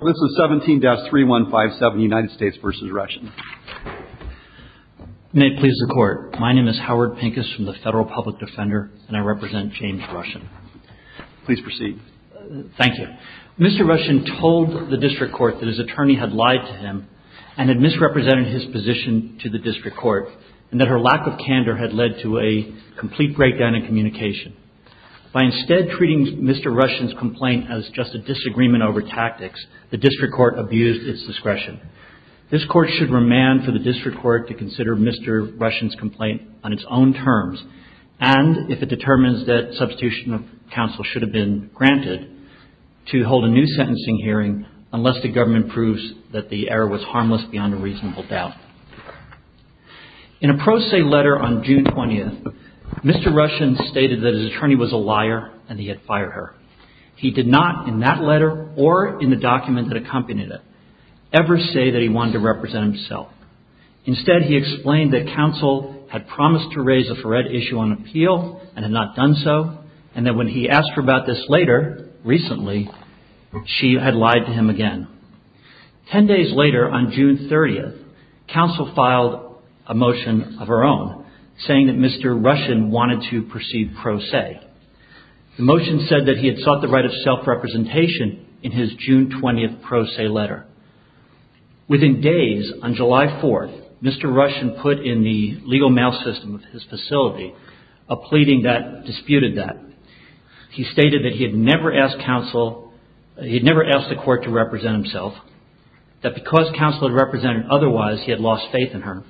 This is 17-3157, United States v. Russian. May it please the Court, my name is Howard Pincus from the Federal Public Defender and I represent James Russian. Please proceed. Thank you. Mr. Russian told the District Court that his attorney had lied to him and had misrepresented his position to the District Court and that her lack of candor had led to a complete breakdown in communication. By instead treating Mr. Russian's complaint as just a disagreement over tactics, the District Court abused its discretion. This Court should remand for the District Court to consider Mr. Russian's complaint on its own terms and, if it determines that substitution of counsel should have been granted, to hold a new sentencing hearing unless the government proves that the error was harmless beyond a reasonable doubt. In a pro se letter on June 20th, Mr. Russian stated that his attorney was a liar and he had fired her. He did not, in that letter or in the document that accompanied it, ever say that he wanted to represent himself. Instead, he explained that counsel had promised to raise a fred issue on appeal and had not done so and that when he asked her about this later, recently, she had lied to him again. Ten days later, on June 30th, counsel filed a motion of her own saying that Mr. Russian wanted to proceed pro se. The motion said that he had sought the right of self-representation in his June 20th pro se letter. Within days, on July 4th, Mr. Russian put in the legal mail system of his facility a pleading that disputed that. He stated that he had never asked counsel, he had never asked the court to represent himself, that because counsel had represented otherwise, he had lost faith in her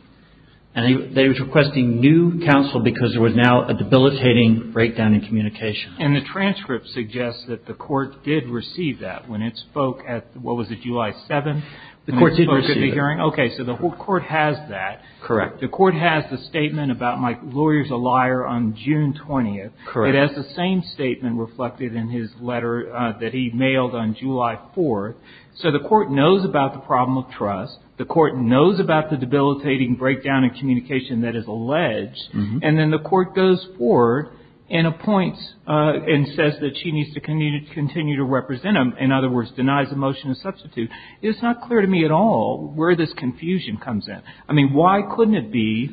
and that he was requesting new counsel because there was now a debilitating breakdown in communication. And the transcript suggests that the court did receive that when it spoke at, what was it, July 7th? The court did receive it. Okay, so the court has that. Correct. The court has the statement about my lawyer's a liar on June 20th. Correct. It has the same statement reflected in his letter that he mailed on July 4th. So the court knows about the problem of trust. The court knows about the debilitating breakdown in communication that is alleged. And then the court goes forward and appoints and says that she needs to continue to represent him. In other words, denies the motion of substitute. It's not clear to me at all where this confusion comes in. I mean, why couldn't it be,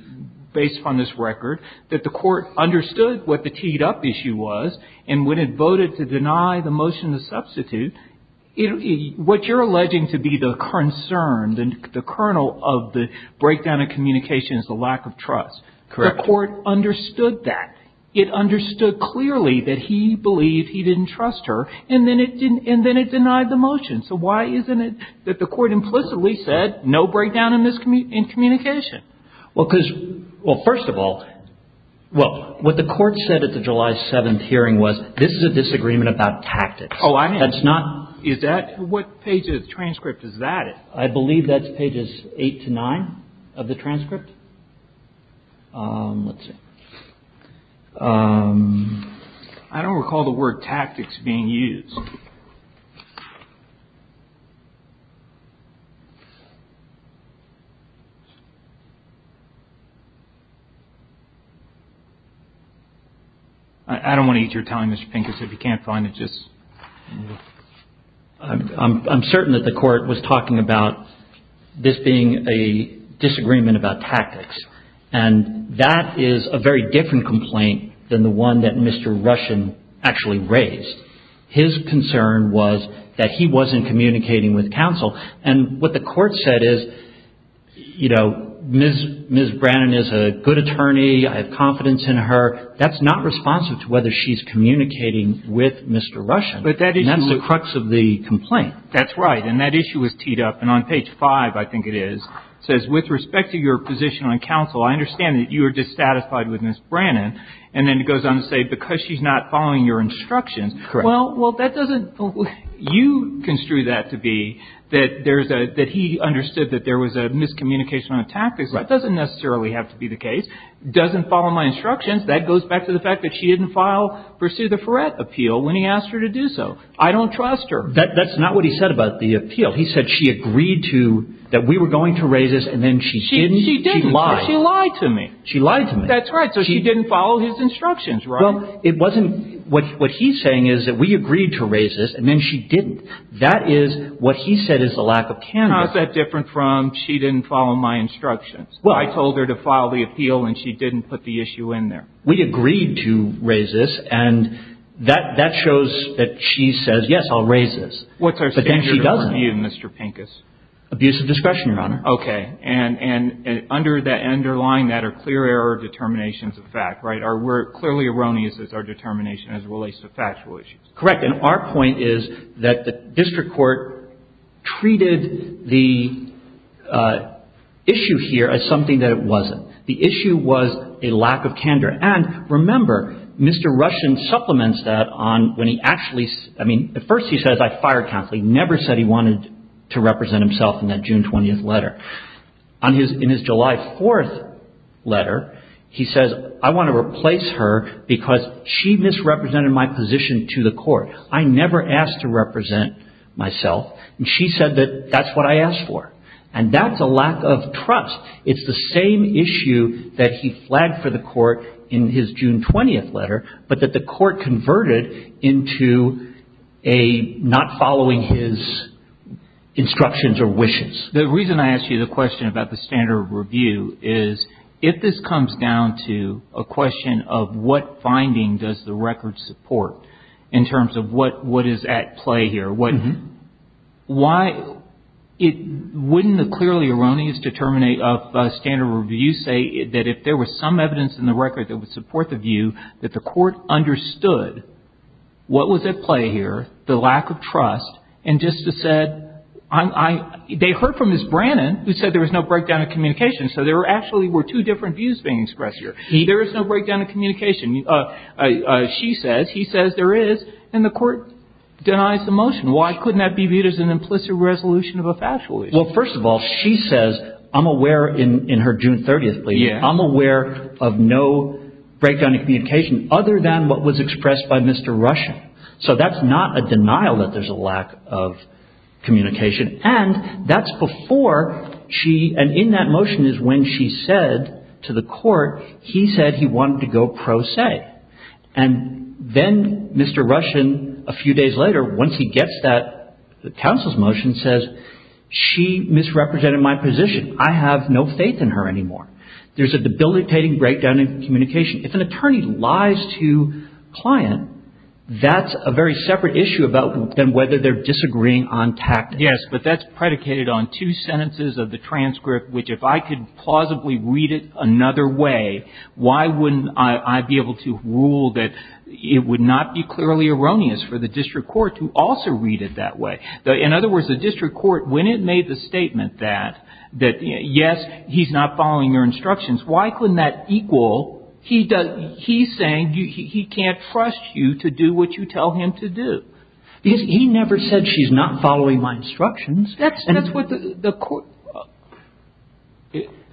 based on this record, that the court understood what the teed-up issue was and when it voted to deny the motion of substitute, what you're alleging to be the concern, the kernel of the breakdown in communication is the lack of trust. Correct. The court understood that. It understood clearly that he believed he didn't trust her and then it denied the motion. So why isn't it that the court implicitly said no breakdown in communication? Well, because, well, first of all, well, what the court said at the July 7th hearing was, this is a disagreement about tactics. Oh, I am. That's not. Is that? What page of the transcript is that in? I believe that's pages 8 to 9 of the transcript. Let's see. I don't recall the word tactics being used. I don't want to eat your time, Mr. Pincus. If you can't find it, just. I'm certain that the court was talking about this being a disagreement about tactics and that is a very different complaint than the one that Mr. Russian actually raised. His concern was that he wasn't communicating with counsel. And what the court said is, you know, Ms. Brannon is a good attorney. I have confidence in her. That's not responsive to whether she's communicating with Mr. Russian. And that's the crux of the complaint. That's right. And that issue was teed up. And on page 5, I think it is, it says, with respect to your position on counsel, I understand that you are dissatisfied with Ms. Brannon. And then it goes on to say, because she's not following your instructions. Correct. Well, that doesn't. You construe that to be that there's a, that he understood that there was a miscommunication on the tactics. That doesn't necessarily have to be the case. Doesn't follow my instructions. That goes back to the fact that she didn't file, pursue the Ferret appeal when he asked her to do so. I don't trust her. That's not what he said about the appeal. He said she agreed to, that we were going to raise this, and then she didn't. She didn't. She lied. She lied to me. She lied to me. That's right. So she didn't follow his instructions, right? Well, it wasn't, what he's saying is that we agreed to raise this, and then she didn't. That is what he said is a lack of candor. How is that different from she didn't follow my instructions? I told her to file the appeal, and she didn't put the issue in there. We agreed to raise this, and that shows that she says, yes, I'll raise this. But then she doesn't. What's our standard of review, Mr. Pincus? Abuse of discretion, Your Honor. Okay. And under that, underlying that are clear error of determinations of fact, right? We're clearly erroneous as our determination as it relates to factual issues. Correct. And our point is that the district court treated the issue here as something that it wasn't. The issue was a lack of candor. And remember, Mr. Russian supplements that on when he actually, I mean, at first he says, I fired counsel. He never said he wanted to represent himself in that June 20th letter. In his July 4th letter, he says, I want to replace her because she misrepresented my position to the court. I never asked to represent myself, and she said that that's what I asked for. And that's a lack of trust. It's the same issue that he flagged for the court in his June 20th letter, but that the court converted into a not following his instructions or wishes. The reason I ask you the question about the standard of review is, if this comes down to a question of what finding does the record support in terms of what is at play here, why wouldn't the clearly erroneous standard of review say that if there was some evidence in the record that would support the view that the court understood what was at play here, the lack of trust, and just said, they heard from Ms. Brannon who said there was no breakdown of communication. So there actually were two different views being expressed here. There is no breakdown of communication. She says, he says there is, and the court denies the motion. And why couldn't that be viewed as an implicit resolution of a factual issue? Well, first of all, she says, I'm aware in her June 30th plea, I'm aware of no breakdown of communication other than what was expressed by Mr. Russian. So that's not a denial that there's a lack of communication. And that's before she, and in that motion is when she said to the court, he said he wanted to go pro se. And then Mr. Russian, a few days later, once he gets that, the counsel's motion says, she misrepresented my position. I have no faith in her anymore. There's a debilitating breakdown of communication. If an attorney lies to a client, that's a very separate issue than whether they're disagreeing on tactics. Yes, but that's predicated on two sentences of the transcript, which if I could plausibly read it another way, why wouldn't I be able to rule that it would not be clearly erroneous for the district court to also read it that way? In other words, the district court, when it made the statement that, yes, he's not following your instructions, why couldn't that equal he's saying he can't trust you to do what you tell him to do? Because he never said she's not following my instructions. That's what the court,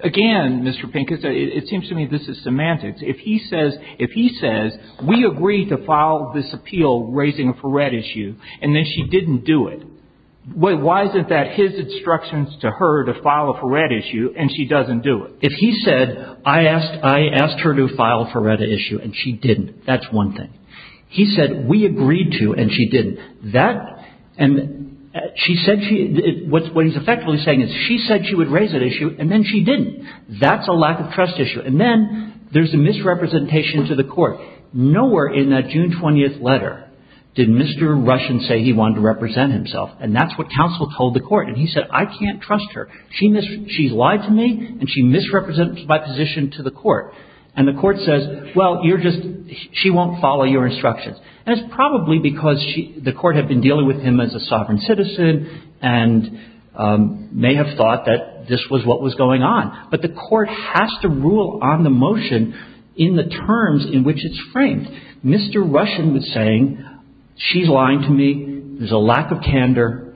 again, Mr. Pink, it seems to me this is semantics. If he says, if he says, we agreed to file this appeal raising a FARETA issue, and then she didn't do it, why isn't that his instructions to her to file a FARETA issue, and she doesn't do it? If he said, I asked her to file a FARETA issue, and she didn't, that's one thing. He said, we agreed to, and she didn't. And she said she, what he's effectively saying is she said she would raise that issue, and then she didn't. That's a lack of trust issue. And then there's a misrepresentation to the court. Nowhere in that June 20th letter did Mr. Rushin say he wanted to represent himself, and that's what counsel told the court. And he said, I can't trust her. She lied to me, and she misrepresents my position to the court. And the court says, well, you're just, she won't follow your instructions. And it's probably because she, the court had been dealing with him as a sovereign citizen, and may have thought that this was what was going on. But the court has to rule on the motion in the terms in which it's framed. Mr. Rushin was saying, she's lying to me, there's a lack of candor,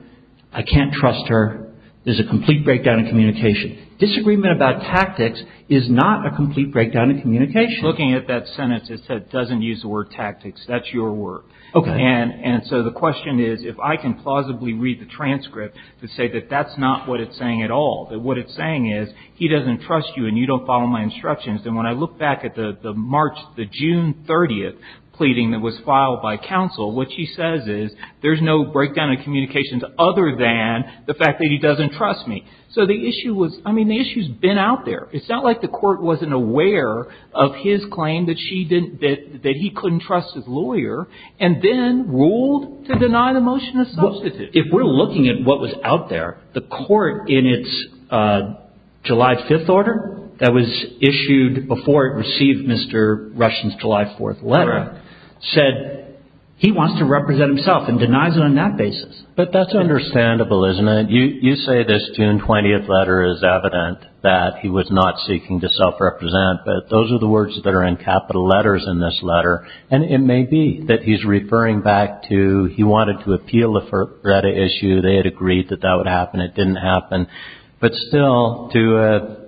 I can't trust her, there's a complete breakdown in communication. Disagreement about tactics is not a complete breakdown in communication. Looking at that sentence, it said, doesn't use the word tactics. That's your word. Okay. And so the question is, if I can plausibly read the transcript to say that that's not what it's saying at all, that what it's saying is, he doesn't trust you and you don't follow my instructions, then when I look back at the March, the June 30th pleading that was filed by counsel, what she says is, there's no breakdown in communications other than the fact that he doesn't trust me. So the issue was, I mean, the issue's been out there. It's not like the court wasn't aware of his claim that she didn't, that he couldn't trust his lawyer and then ruled to deny the motion a substitute. If we're looking at what was out there, the court in its July 5th order that was issued before it received Mr. Rushin's July 4th letter, said he wants to represent himself and denies it on that basis. But that's understandable, isn't it? You say this June 20th letter is evident that he was not seeking to self-represent, but those are the words that are in capital letters in this letter. And it may be that he's referring back to he wanted to appeal the FERPA issue. They had agreed that that would happen. It didn't happen. But still, to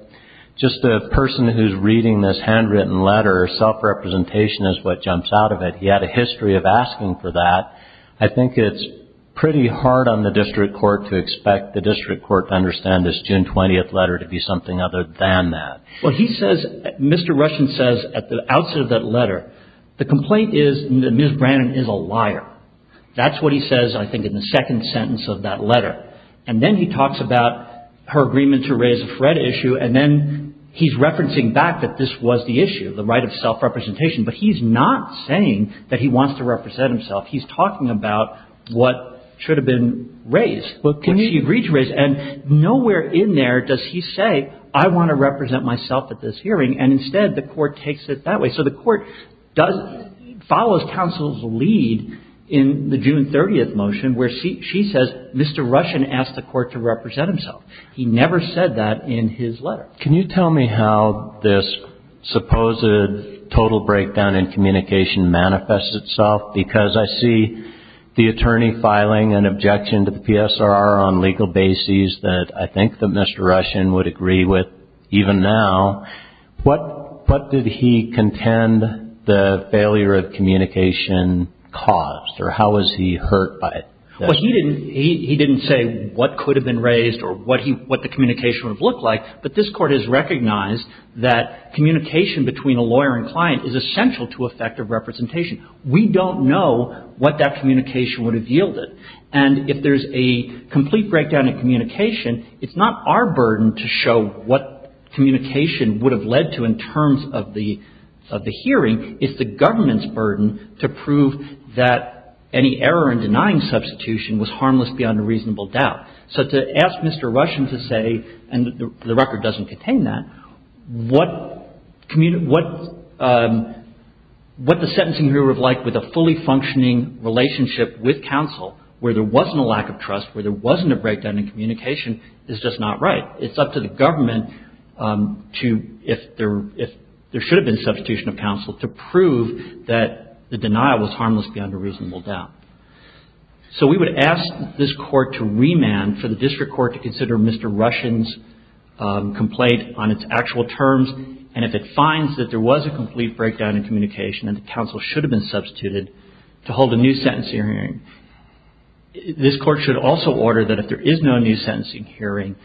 just a person who's reading this handwritten letter, self-representation is what jumps out of it. He had a history of asking for that. I think it's pretty hard on the district court to expect the district court to understand this June 20th letter to be something other than that. Well, he says, Mr. Rushin says at the outset of that letter, the complaint is that Ms. Brannon is a liar. That's what he says, I think, in the second sentence of that letter. And then he talks about her agreement to raise a FRED issue. And then he's referencing back that this was the issue, the right of self-representation. But he's not saying that he wants to represent himself. He's talking about what should have been raised, what she agreed to raise. And nowhere in there does he say, I want to represent myself at this hearing. And instead, the court takes it that way. So the court follows counsel's lead in the June 30th motion where she says, Mr. Rushin asked the court to represent himself. He never said that in his letter. Can you tell me how this supposed total breakdown in communication manifests itself? Because I see the attorney filing an objection to the PSRR on legal bases that I think that Mr. Rushin would agree with even now. What did he contend the failure of communication caused, or how was he hurt by it? Well, he didn't say what could have been raised or what the communication would have looked like. But this Court has recognized that communication between a lawyer and client is essential to effective representation. We don't know what that communication would have yielded. And if there's a complete breakdown in communication, it's not our burden to show what communication would have led to in terms of the hearing. It's the government's burden to prove that any error in denying substitution was harmless beyond a reasonable doubt. So to ask Mr. Rushin to say, and the record doesn't contain that, what the sentencing hearing would have looked like with a fully functioning relationship with counsel where there wasn't a lack of trust, where there wasn't a breakdown in communication is just not right. It's up to the government if there should have been substitution of counsel to prove that the denial was harmless beyond a reasonable doubt. So we would ask this Court to remand for the District Court to consider Mr. Rushin's complaint on its actual terms. And if it finds that there was a complete breakdown in communication and the counsel should have been substituted to hold a new sentencing hearing. This Court should also order that if there is no new sentencing hearing,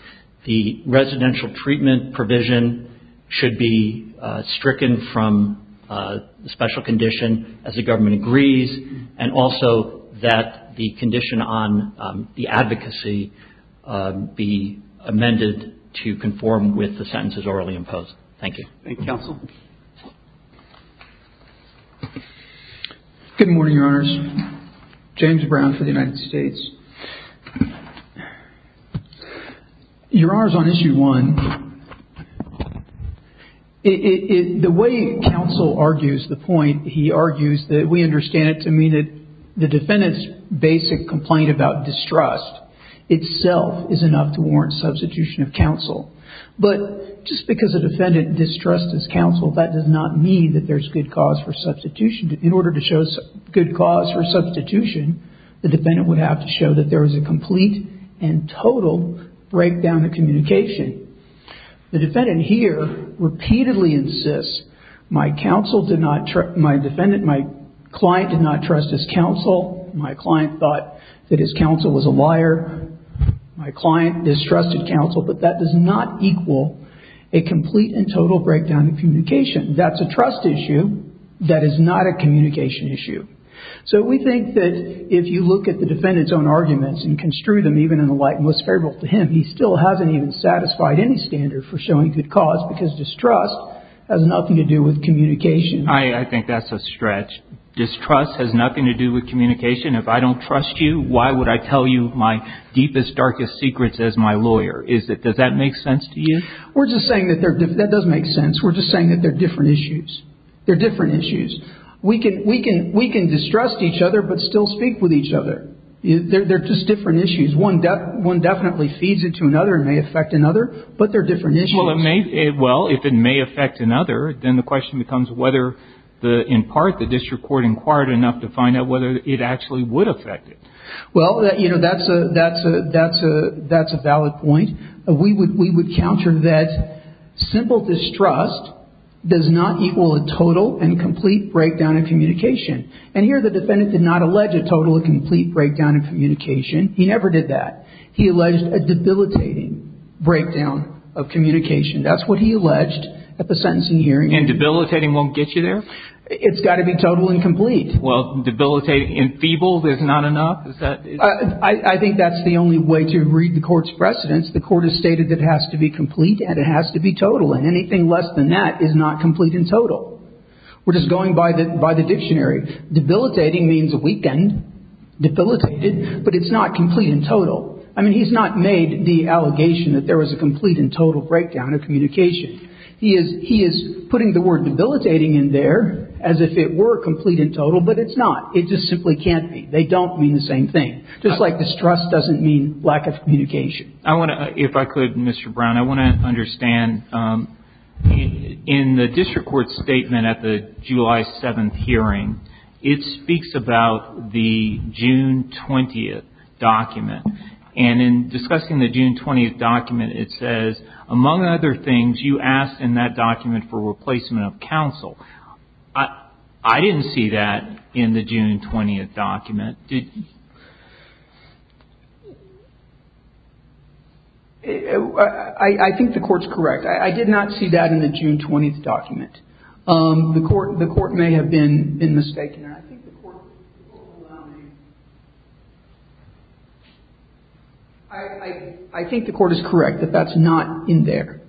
the residential treatment provision should be stricken from the special condition as the government agrees and also that the condition on the advocacy be amended to conform with the sentences orally imposed. Thank you. Thank you, counsel. Good morning, Your Honors. James Brown for the United States. Your Honors, on issue one, the way counsel argues the point, he argues that we understand it to mean that the defendant's basic complaint about distrust itself is enough to warrant substitution of counsel. But just because a defendant distrusts his counsel, that does not mean that there's good cause for substitution. In order to show good cause for substitution, the defendant would have to show that there was a complete and total breakdown in communication. The defendant here repeatedly insists, my client did not trust his counsel. My client thought that his counsel was a liar. My client distrusted counsel. But that does not equal a complete and total breakdown in communication. That's a trust issue. That is not a communication issue. So we think that if you look at the defendant's own arguments and construe them even in the light most favorable to him, he still hasn't even satisfied any standard for showing good cause because distrust has nothing to do with communication. I think that's a stretch. Distrust has nothing to do with communication. If I don't trust you, why would I tell you my deepest, darkest secrets as my lawyer? Does that make sense to you? We're just saying that that does make sense. We're just saying that they're different issues. They're different issues. We can distrust each other but still speak with each other. They're just different issues. One definitely feeds into another and may affect another, but they're different issues. Well, if it may affect another, then the question becomes whether, in part, the district court inquired enough to find out whether it actually would affect it. Well, that's a valid point. We would counter that simple distrust does not equal a total and complete breakdown in communication. And here the defendant did not allege a total and complete breakdown in communication. He never did that. He alleged a debilitating breakdown of communication. That's what he alleged at the sentencing hearing. And debilitating won't get you there? It's got to be total and complete. Well, debilitating and feeble is not enough? I think that's the only way to read the court's precedence. The court has stated that it has to be complete and it has to be total, and anything less than that is not complete and total. We're just going by the dictionary. Debilitating means weakened, debilitated, but it's not complete and total. I mean, he's not made the allegation that there was a complete and total breakdown of communication. He is putting the word debilitating in there as if it were complete and total, but it's not. It just simply can't be. They don't mean the same thing. Just like distrust doesn't mean lack of communication. I want to, if I could, Mr. Brown, I want to understand, in the district court statement at the July 7th hearing, it speaks about the June 20th document. And in discussing the June 20th document, it says, among other things, you asked in that document for replacement of counsel. I didn't see that in the June 20th document. I think the court's correct. I did not see that in the June 20th document. The court may have been mistaken there. I think the court is correct that that's not in there.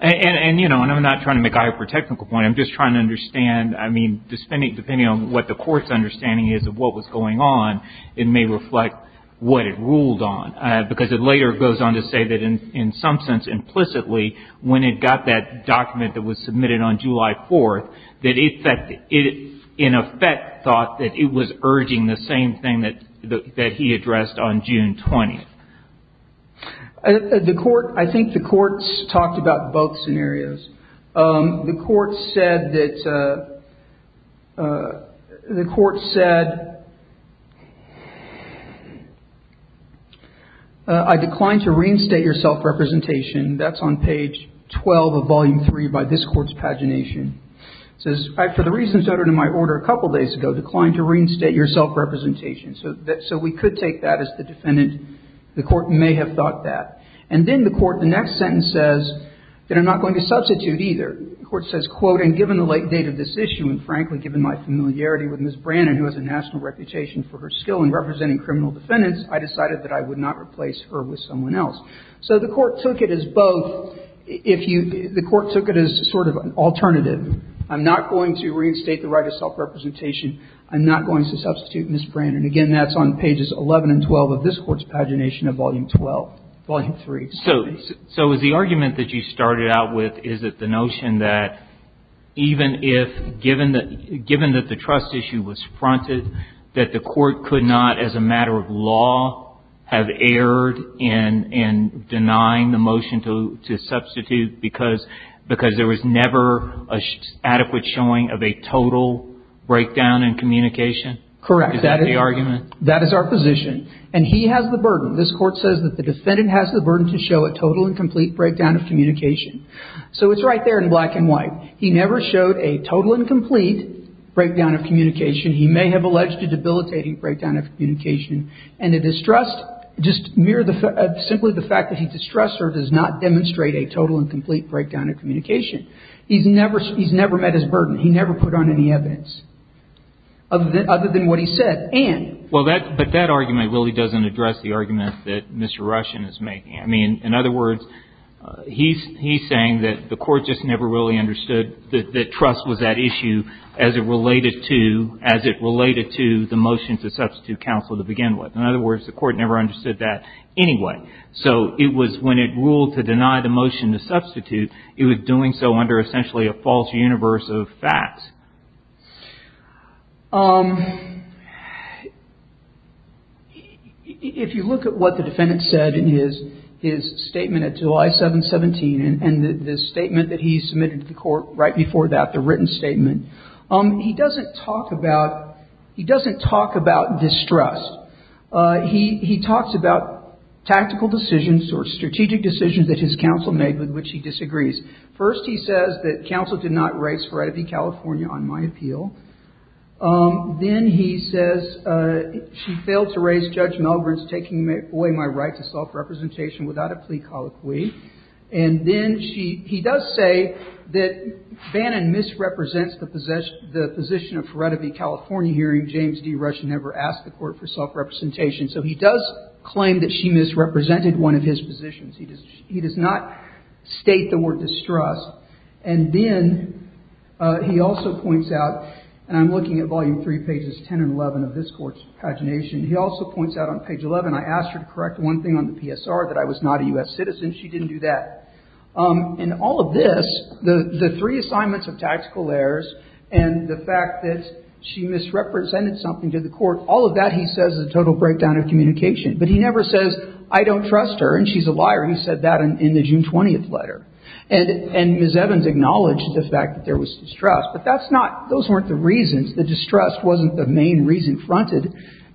And, you know, and I'm not trying to make a hyper-technical point. I'm just trying to understand. I mean, depending on what the court's understanding is of what was going on, it may reflect what it ruled on. Because it later goes on to say that in some sense implicitly, when it got that document that was submitted on July 4th, that it in effect thought that it was urging the same thing that he addressed on June 20th. The court, I think the court's talked about both scenarios. The court said that I declined to reinstate your self-representation. That's on page 12 of Volume 3 by this court's pagination. It says, for the reasons uttered in my order a couple days ago, declined to reinstate your self-representation. So we could take that as the defendant. The court may have thought that. And then the court, the next sentence says that I'm not going to substitute either. The court says, quote, and given the late date of this issue and, frankly, given my familiarity with Ms. Brannon, who has a national reputation for her skill in representing criminal defendants, I decided that I would not replace her with someone else. So the court took it as both. If you – the court took it as sort of an alternative. I'm not going to reinstate the right of self-representation. I'm not going to substitute Ms. Brannon. And, again, that's on pages 11 and 12 of this court's pagination of Volume 12, Volume 3. So is the argument that you started out with, is it the notion that even if – given that the trust issue was fronted, that the court could not, as a matter of law, have erred in denying the motion to substitute because there was never an adequate showing of a total breakdown in communication? Correct. Is that the argument? That is our position. And he has the burden. This court says that the defendant has the burden to show a total and complete breakdown of communication. So it's right there in black and white. He never showed a total and complete breakdown of communication. He may have alleged a debilitating breakdown of communication. And the distrust, just mere – simply the fact that he distrusts her does not demonstrate a total and complete breakdown of communication. He's never – he's never met his burden. He never put on any evidence. Other than what he said. And? Well, that – but that argument really doesn't address the argument that Mr. Russian is making. I mean, in other words, he's saying that the court just never really understood that trust was that issue as it related to – as it related to the motion to substitute counsel to begin with. In other words, the court never understood that anyway. So it was when it ruled to deny the motion to substitute, it was doing so under essentially a false universe of facts. If you look at what the defendant said in his statement at July 7, 17, and the statement that he submitted to the court right before that, the written statement, he doesn't talk about – he doesn't talk about distrust. He talks about tactical decisions or strategic decisions that his counsel made with which he disagrees. First he says that counsel did not raise Feretta v. California on my appeal. Then he says she failed to raise Judge Milgren's taking away my right to self-representation without a plea colloquy. And then she – he does say that Bannon misrepresents the position of Feretta v. California hearing James D. Russian never asked the court for self-representation. So he does claim that she misrepresented one of his positions. He does not state the word distrust. And then he also points out – and I'm looking at volume 3, pages 10 and 11 of this court's pagination. He also points out on page 11, I asked her to correct one thing on the PSR, that I was not a U.S. citizen. She didn't do that. In all of this, the three assignments of tactical errors and the fact that she misrepresented something to the court, all of that he says is a total breakdown of communication. But he never says I don't trust her and she's a liar. He said that in the June 20th letter. And Ms. Evans acknowledged the fact that there was distrust. But that's not – those weren't the reasons. The distrust wasn't the main reason fronted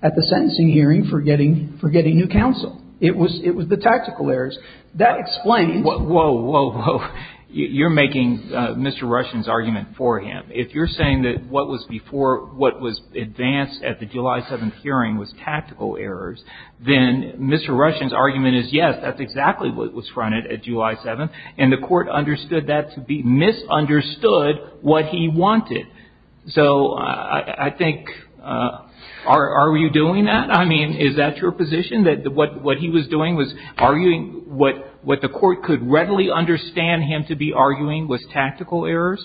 at the sentencing hearing for getting new counsel. It was the tactical errors. That explains – Whoa, whoa, whoa. You're making Mr. Russian's argument for him. If you're saying that what was before – what was advanced at the July 7th hearing was tactical errors, then Mr. Russian's argument is yes, that's exactly what was fronted at July 7th. And the court understood that to be – misunderstood what he wanted. So I think – are you doing that? I mean, is that your position, that what he was doing was arguing what the court could readily understand him to be arguing was tactical errors?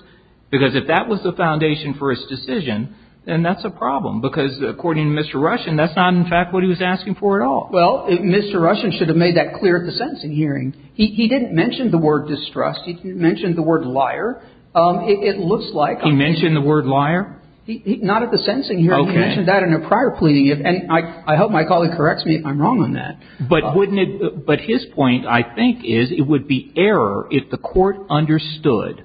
Because if that was the foundation for his decision, then that's a problem. Because according to Mr. Russian, that's not in fact what he was asking for at all. Well, Mr. Russian should have made that clear at the sentencing hearing. He didn't mention the word distrust. He didn't mention the word liar. It looks like – He mentioned the word liar? Not at the sentencing hearing. Okay. He mentioned that in a prior plea. And I hope my colleague corrects me if I'm wrong on that. But wouldn't it – but his point, I think, is it would be error if the court understood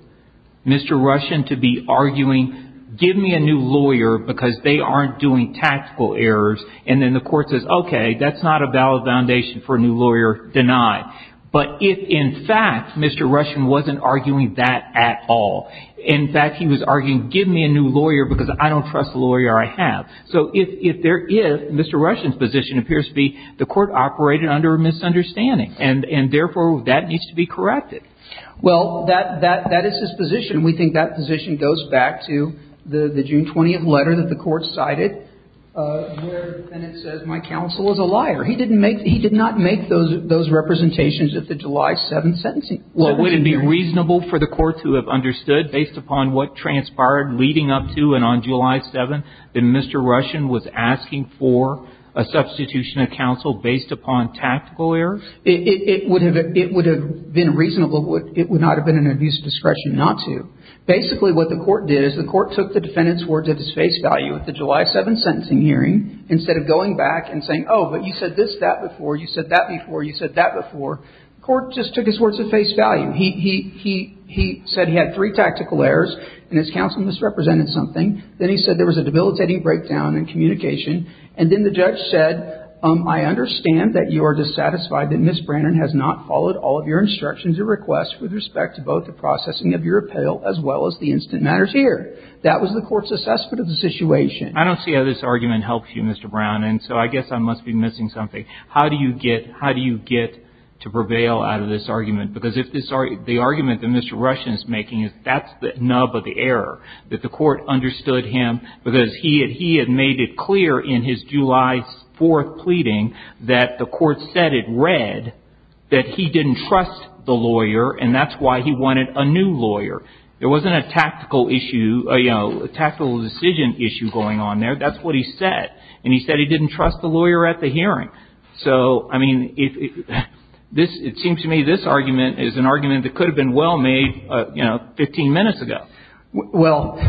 Mr. Russian to be arguing, give me a new lawyer because they aren't doing tactical errors, and then the court says, okay, that's not a valid foundation for a new lawyer denied. But if in fact Mr. Russian wasn't arguing that at all, in fact he was arguing, give me a new lawyer because I don't trust the lawyer I have. So if there is, Mr. Russian's position appears to be the court operated under a misunderstanding, and therefore that needs to be corrected. Well, that is his position. We think that position goes back to the June 20th letter that the court cited where Bennett says my counsel is a liar. He did not make those representations at the July 7th sentencing. So would it be reasonable for the court to have understood, based upon what transpired leading up to and on July 7th, that Mr. Russian was asking for a substitution of counsel based upon tactical errors? It would have been reasonable. It would not have been an abuse of discretion not to. Basically what the court did is the court took the defendant's words at his face value at the July 7th sentencing hearing instead of going back and saying, oh, but you said this, that before. You said that before. You said that before. The court just took his words at face value. He said he had three tactical errors and his counsel misrepresented something. Then he said there was a debilitating breakdown in communication. And then the judge said, I understand that you are dissatisfied that Ms. Brannon has not followed all of your instructions or requests with respect to both the processing of your appeal as well as the instant matters here. That was the court's assessment of the situation. I don't see how this argument helps you, Mr. Brown. And so I guess I must be missing something. How do you get to prevail out of this argument? Because the argument that Mr. Russian is making is that's the nub of the error, that the court understood him because he had made it clear in his July 4th pleading that the court said it read that he didn't trust the lawyer, and that's why he wanted a new lawyer. There wasn't a tactical issue, you know, a tactical decision issue going on there. That's what he said. And he said he didn't trust the lawyer at the hearing. So, I mean, it seems to me this argument is an argument that could have been well made, you know, 15 minutes ago. Well,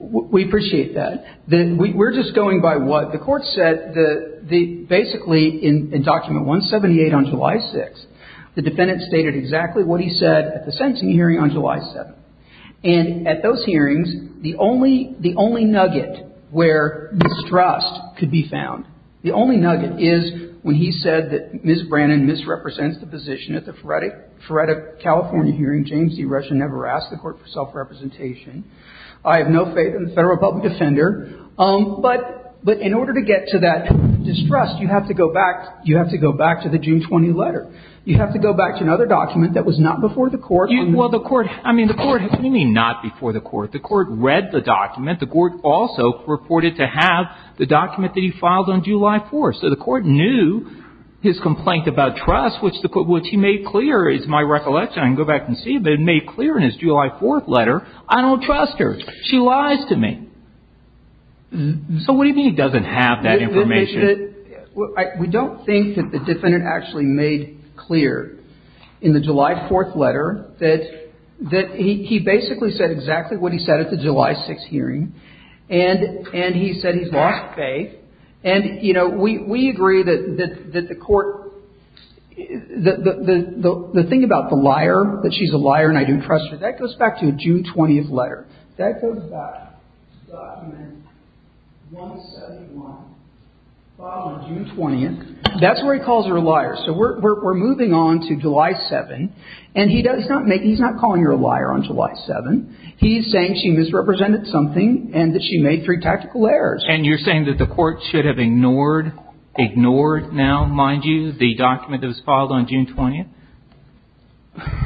we appreciate that. We're just going by what the court said. Basically, in Document 178 on July 6th, the defendant stated exactly what he said at the sentencing hearing on July 7th. And at those hearings, the only nugget where mistrust could be found, the only nugget is when he said that Ms. Brannon misrepresents the position at the Frederick, California hearing. James D. Rushin never asked the court for self-representation. I have no faith in the Federal public defender. But in order to get to that distrust, you have to go back. You have to go back to the June 20 letter. You have to go back to another document that was not before the court. Well, the court – I mean, the court – what do you mean not before the court? The court read the document. The court also reported to have the document that he filed on July 4th. So the court knew his complaint about trust, which he made clear is my recollection. I can go back and see. But it made clear in his July 4th letter, I don't trust her. She lies to me. So what do you mean he doesn't have that information? We don't think that the defendant actually made clear in the July 4th letter that he basically said exactly what he said at the July 6th hearing. And he said he's lost faith. And, you know, we agree that the court – the thing about the liar, that she's a liar and I don't trust her, that goes back to a June 20th letter. That goes back to document 171 filed on June 20th. That's where he calls her a liar. So we're moving on to July 7th. And he does not make – he's not calling her a liar on July 7th. He's saying she misrepresented something and that she made three tactical errors. And you're saying that the court should have ignored – ignored now, mind you, the document that was filed on June 20th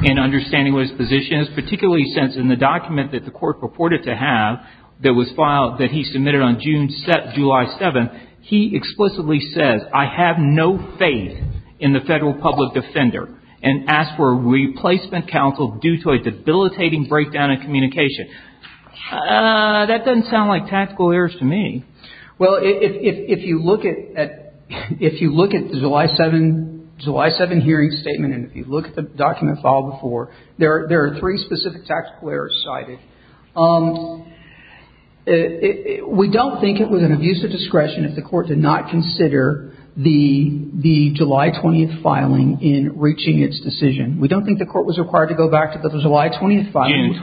in understanding what his position is, particularly since in the document that the court purported to have that was filed – that he submitted on July 7th, he explicitly says, I have no faith in the federal public defender and asked for a replacement counsel due to a debilitating breakdown in communication. That doesn't sound like tactical errors to me. Well, if you look at – if you look at the July 7th – July 7th hearing statement and if you look at the document filed before, there are three specific tactical errors cited. We don't think it was an abuse of discretion if the court did not consider the July 20th filing in reaching its decision. We don't think the court was required to go back to the July 20th filing.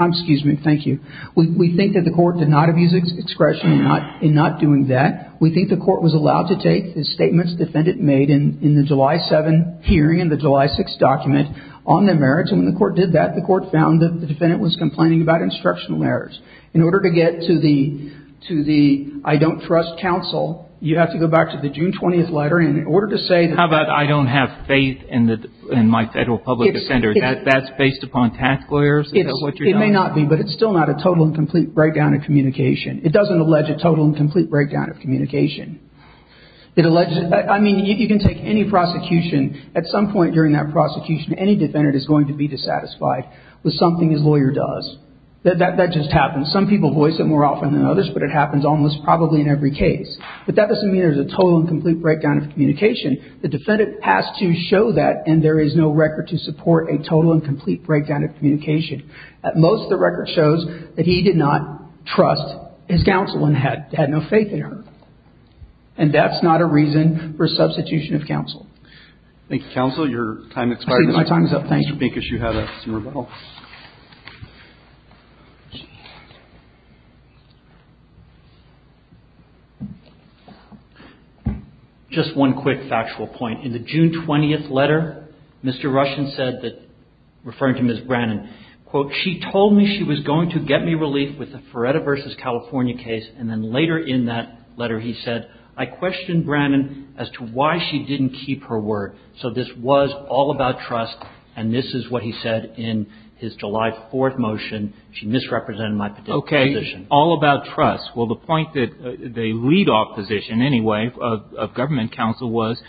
Excuse me. Thank you. We think that the court did not abuse discretion in not doing that. We think the court was allowed to take the statements the defendant made in the July 7th hearing and the July 6th document on their merits, and when the court did that, the court found that the defendant was complaining about instructional errors. In order to get to the – to the I don't trust counsel, you have to go back to the June 20th letter in order to say – How about I don't have faith in my federal public defender? That's based upon tactical errors? It may not be, but it's still not a total and complete breakdown of communication. It doesn't allege a total and complete breakdown of communication. It alleges – I mean, you can take any prosecution. At some point during that prosecution, any defendant is going to be dissatisfied with something his lawyer does. That just happens. Some people voice it more often than others, but it happens almost probably in every case. But that doesn't mean there's a total and complete breakdown of communication. The defendant has to show that, and there is no record to support a total and complete breakdown of communication. At most, the record shows that he did not trust his counsel and had no faith in her. And that's not a reason for substitution of counsel. Thank you, counsel. Your time expires. My time is up. Thank you. Mr. Pincus, you had a small vote. Just one quick factual point. In the June 20th letter, Mr. Russian said that – referring to Ms. Brannon – quote, she told me she was going to get me relief with the Feretta v. California case, and then later in that letter he said, I questioned Brannon as to why she didn't keep her word. So this was all about trust, and this is what he said in his July 4th motion. She misrepresented my position. Okay. All about trust. Well, the point that they lead off position, anyway, of government counsel was,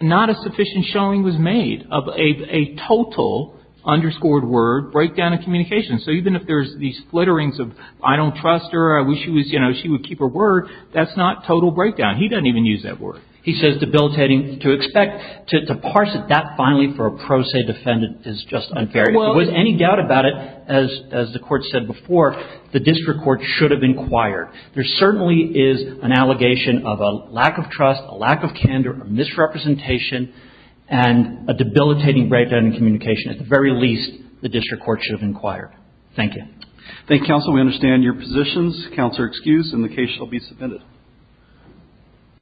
not a sufficient showing was made of a total, underscored word, breakdown of communication. So even if there's these flitterings of, I don't trust her, I wish she would keep her word, that's not total breakdown. He doesn't even use that word. He says debilitating. To expect – to parse it that finely for a pro se defendant is just unfair. If there was any doubt about it, as the Court said before, the district court should have inquired. There certainly is an allegation of a lack of trust, a lack of candor, a misrepresentation, and a debilitating breakdown in communication. At the very least, the district court should have inquired. Thank you. Thank you, counsel. We understand your positions. Counsel, excused, and the case shall be submitted.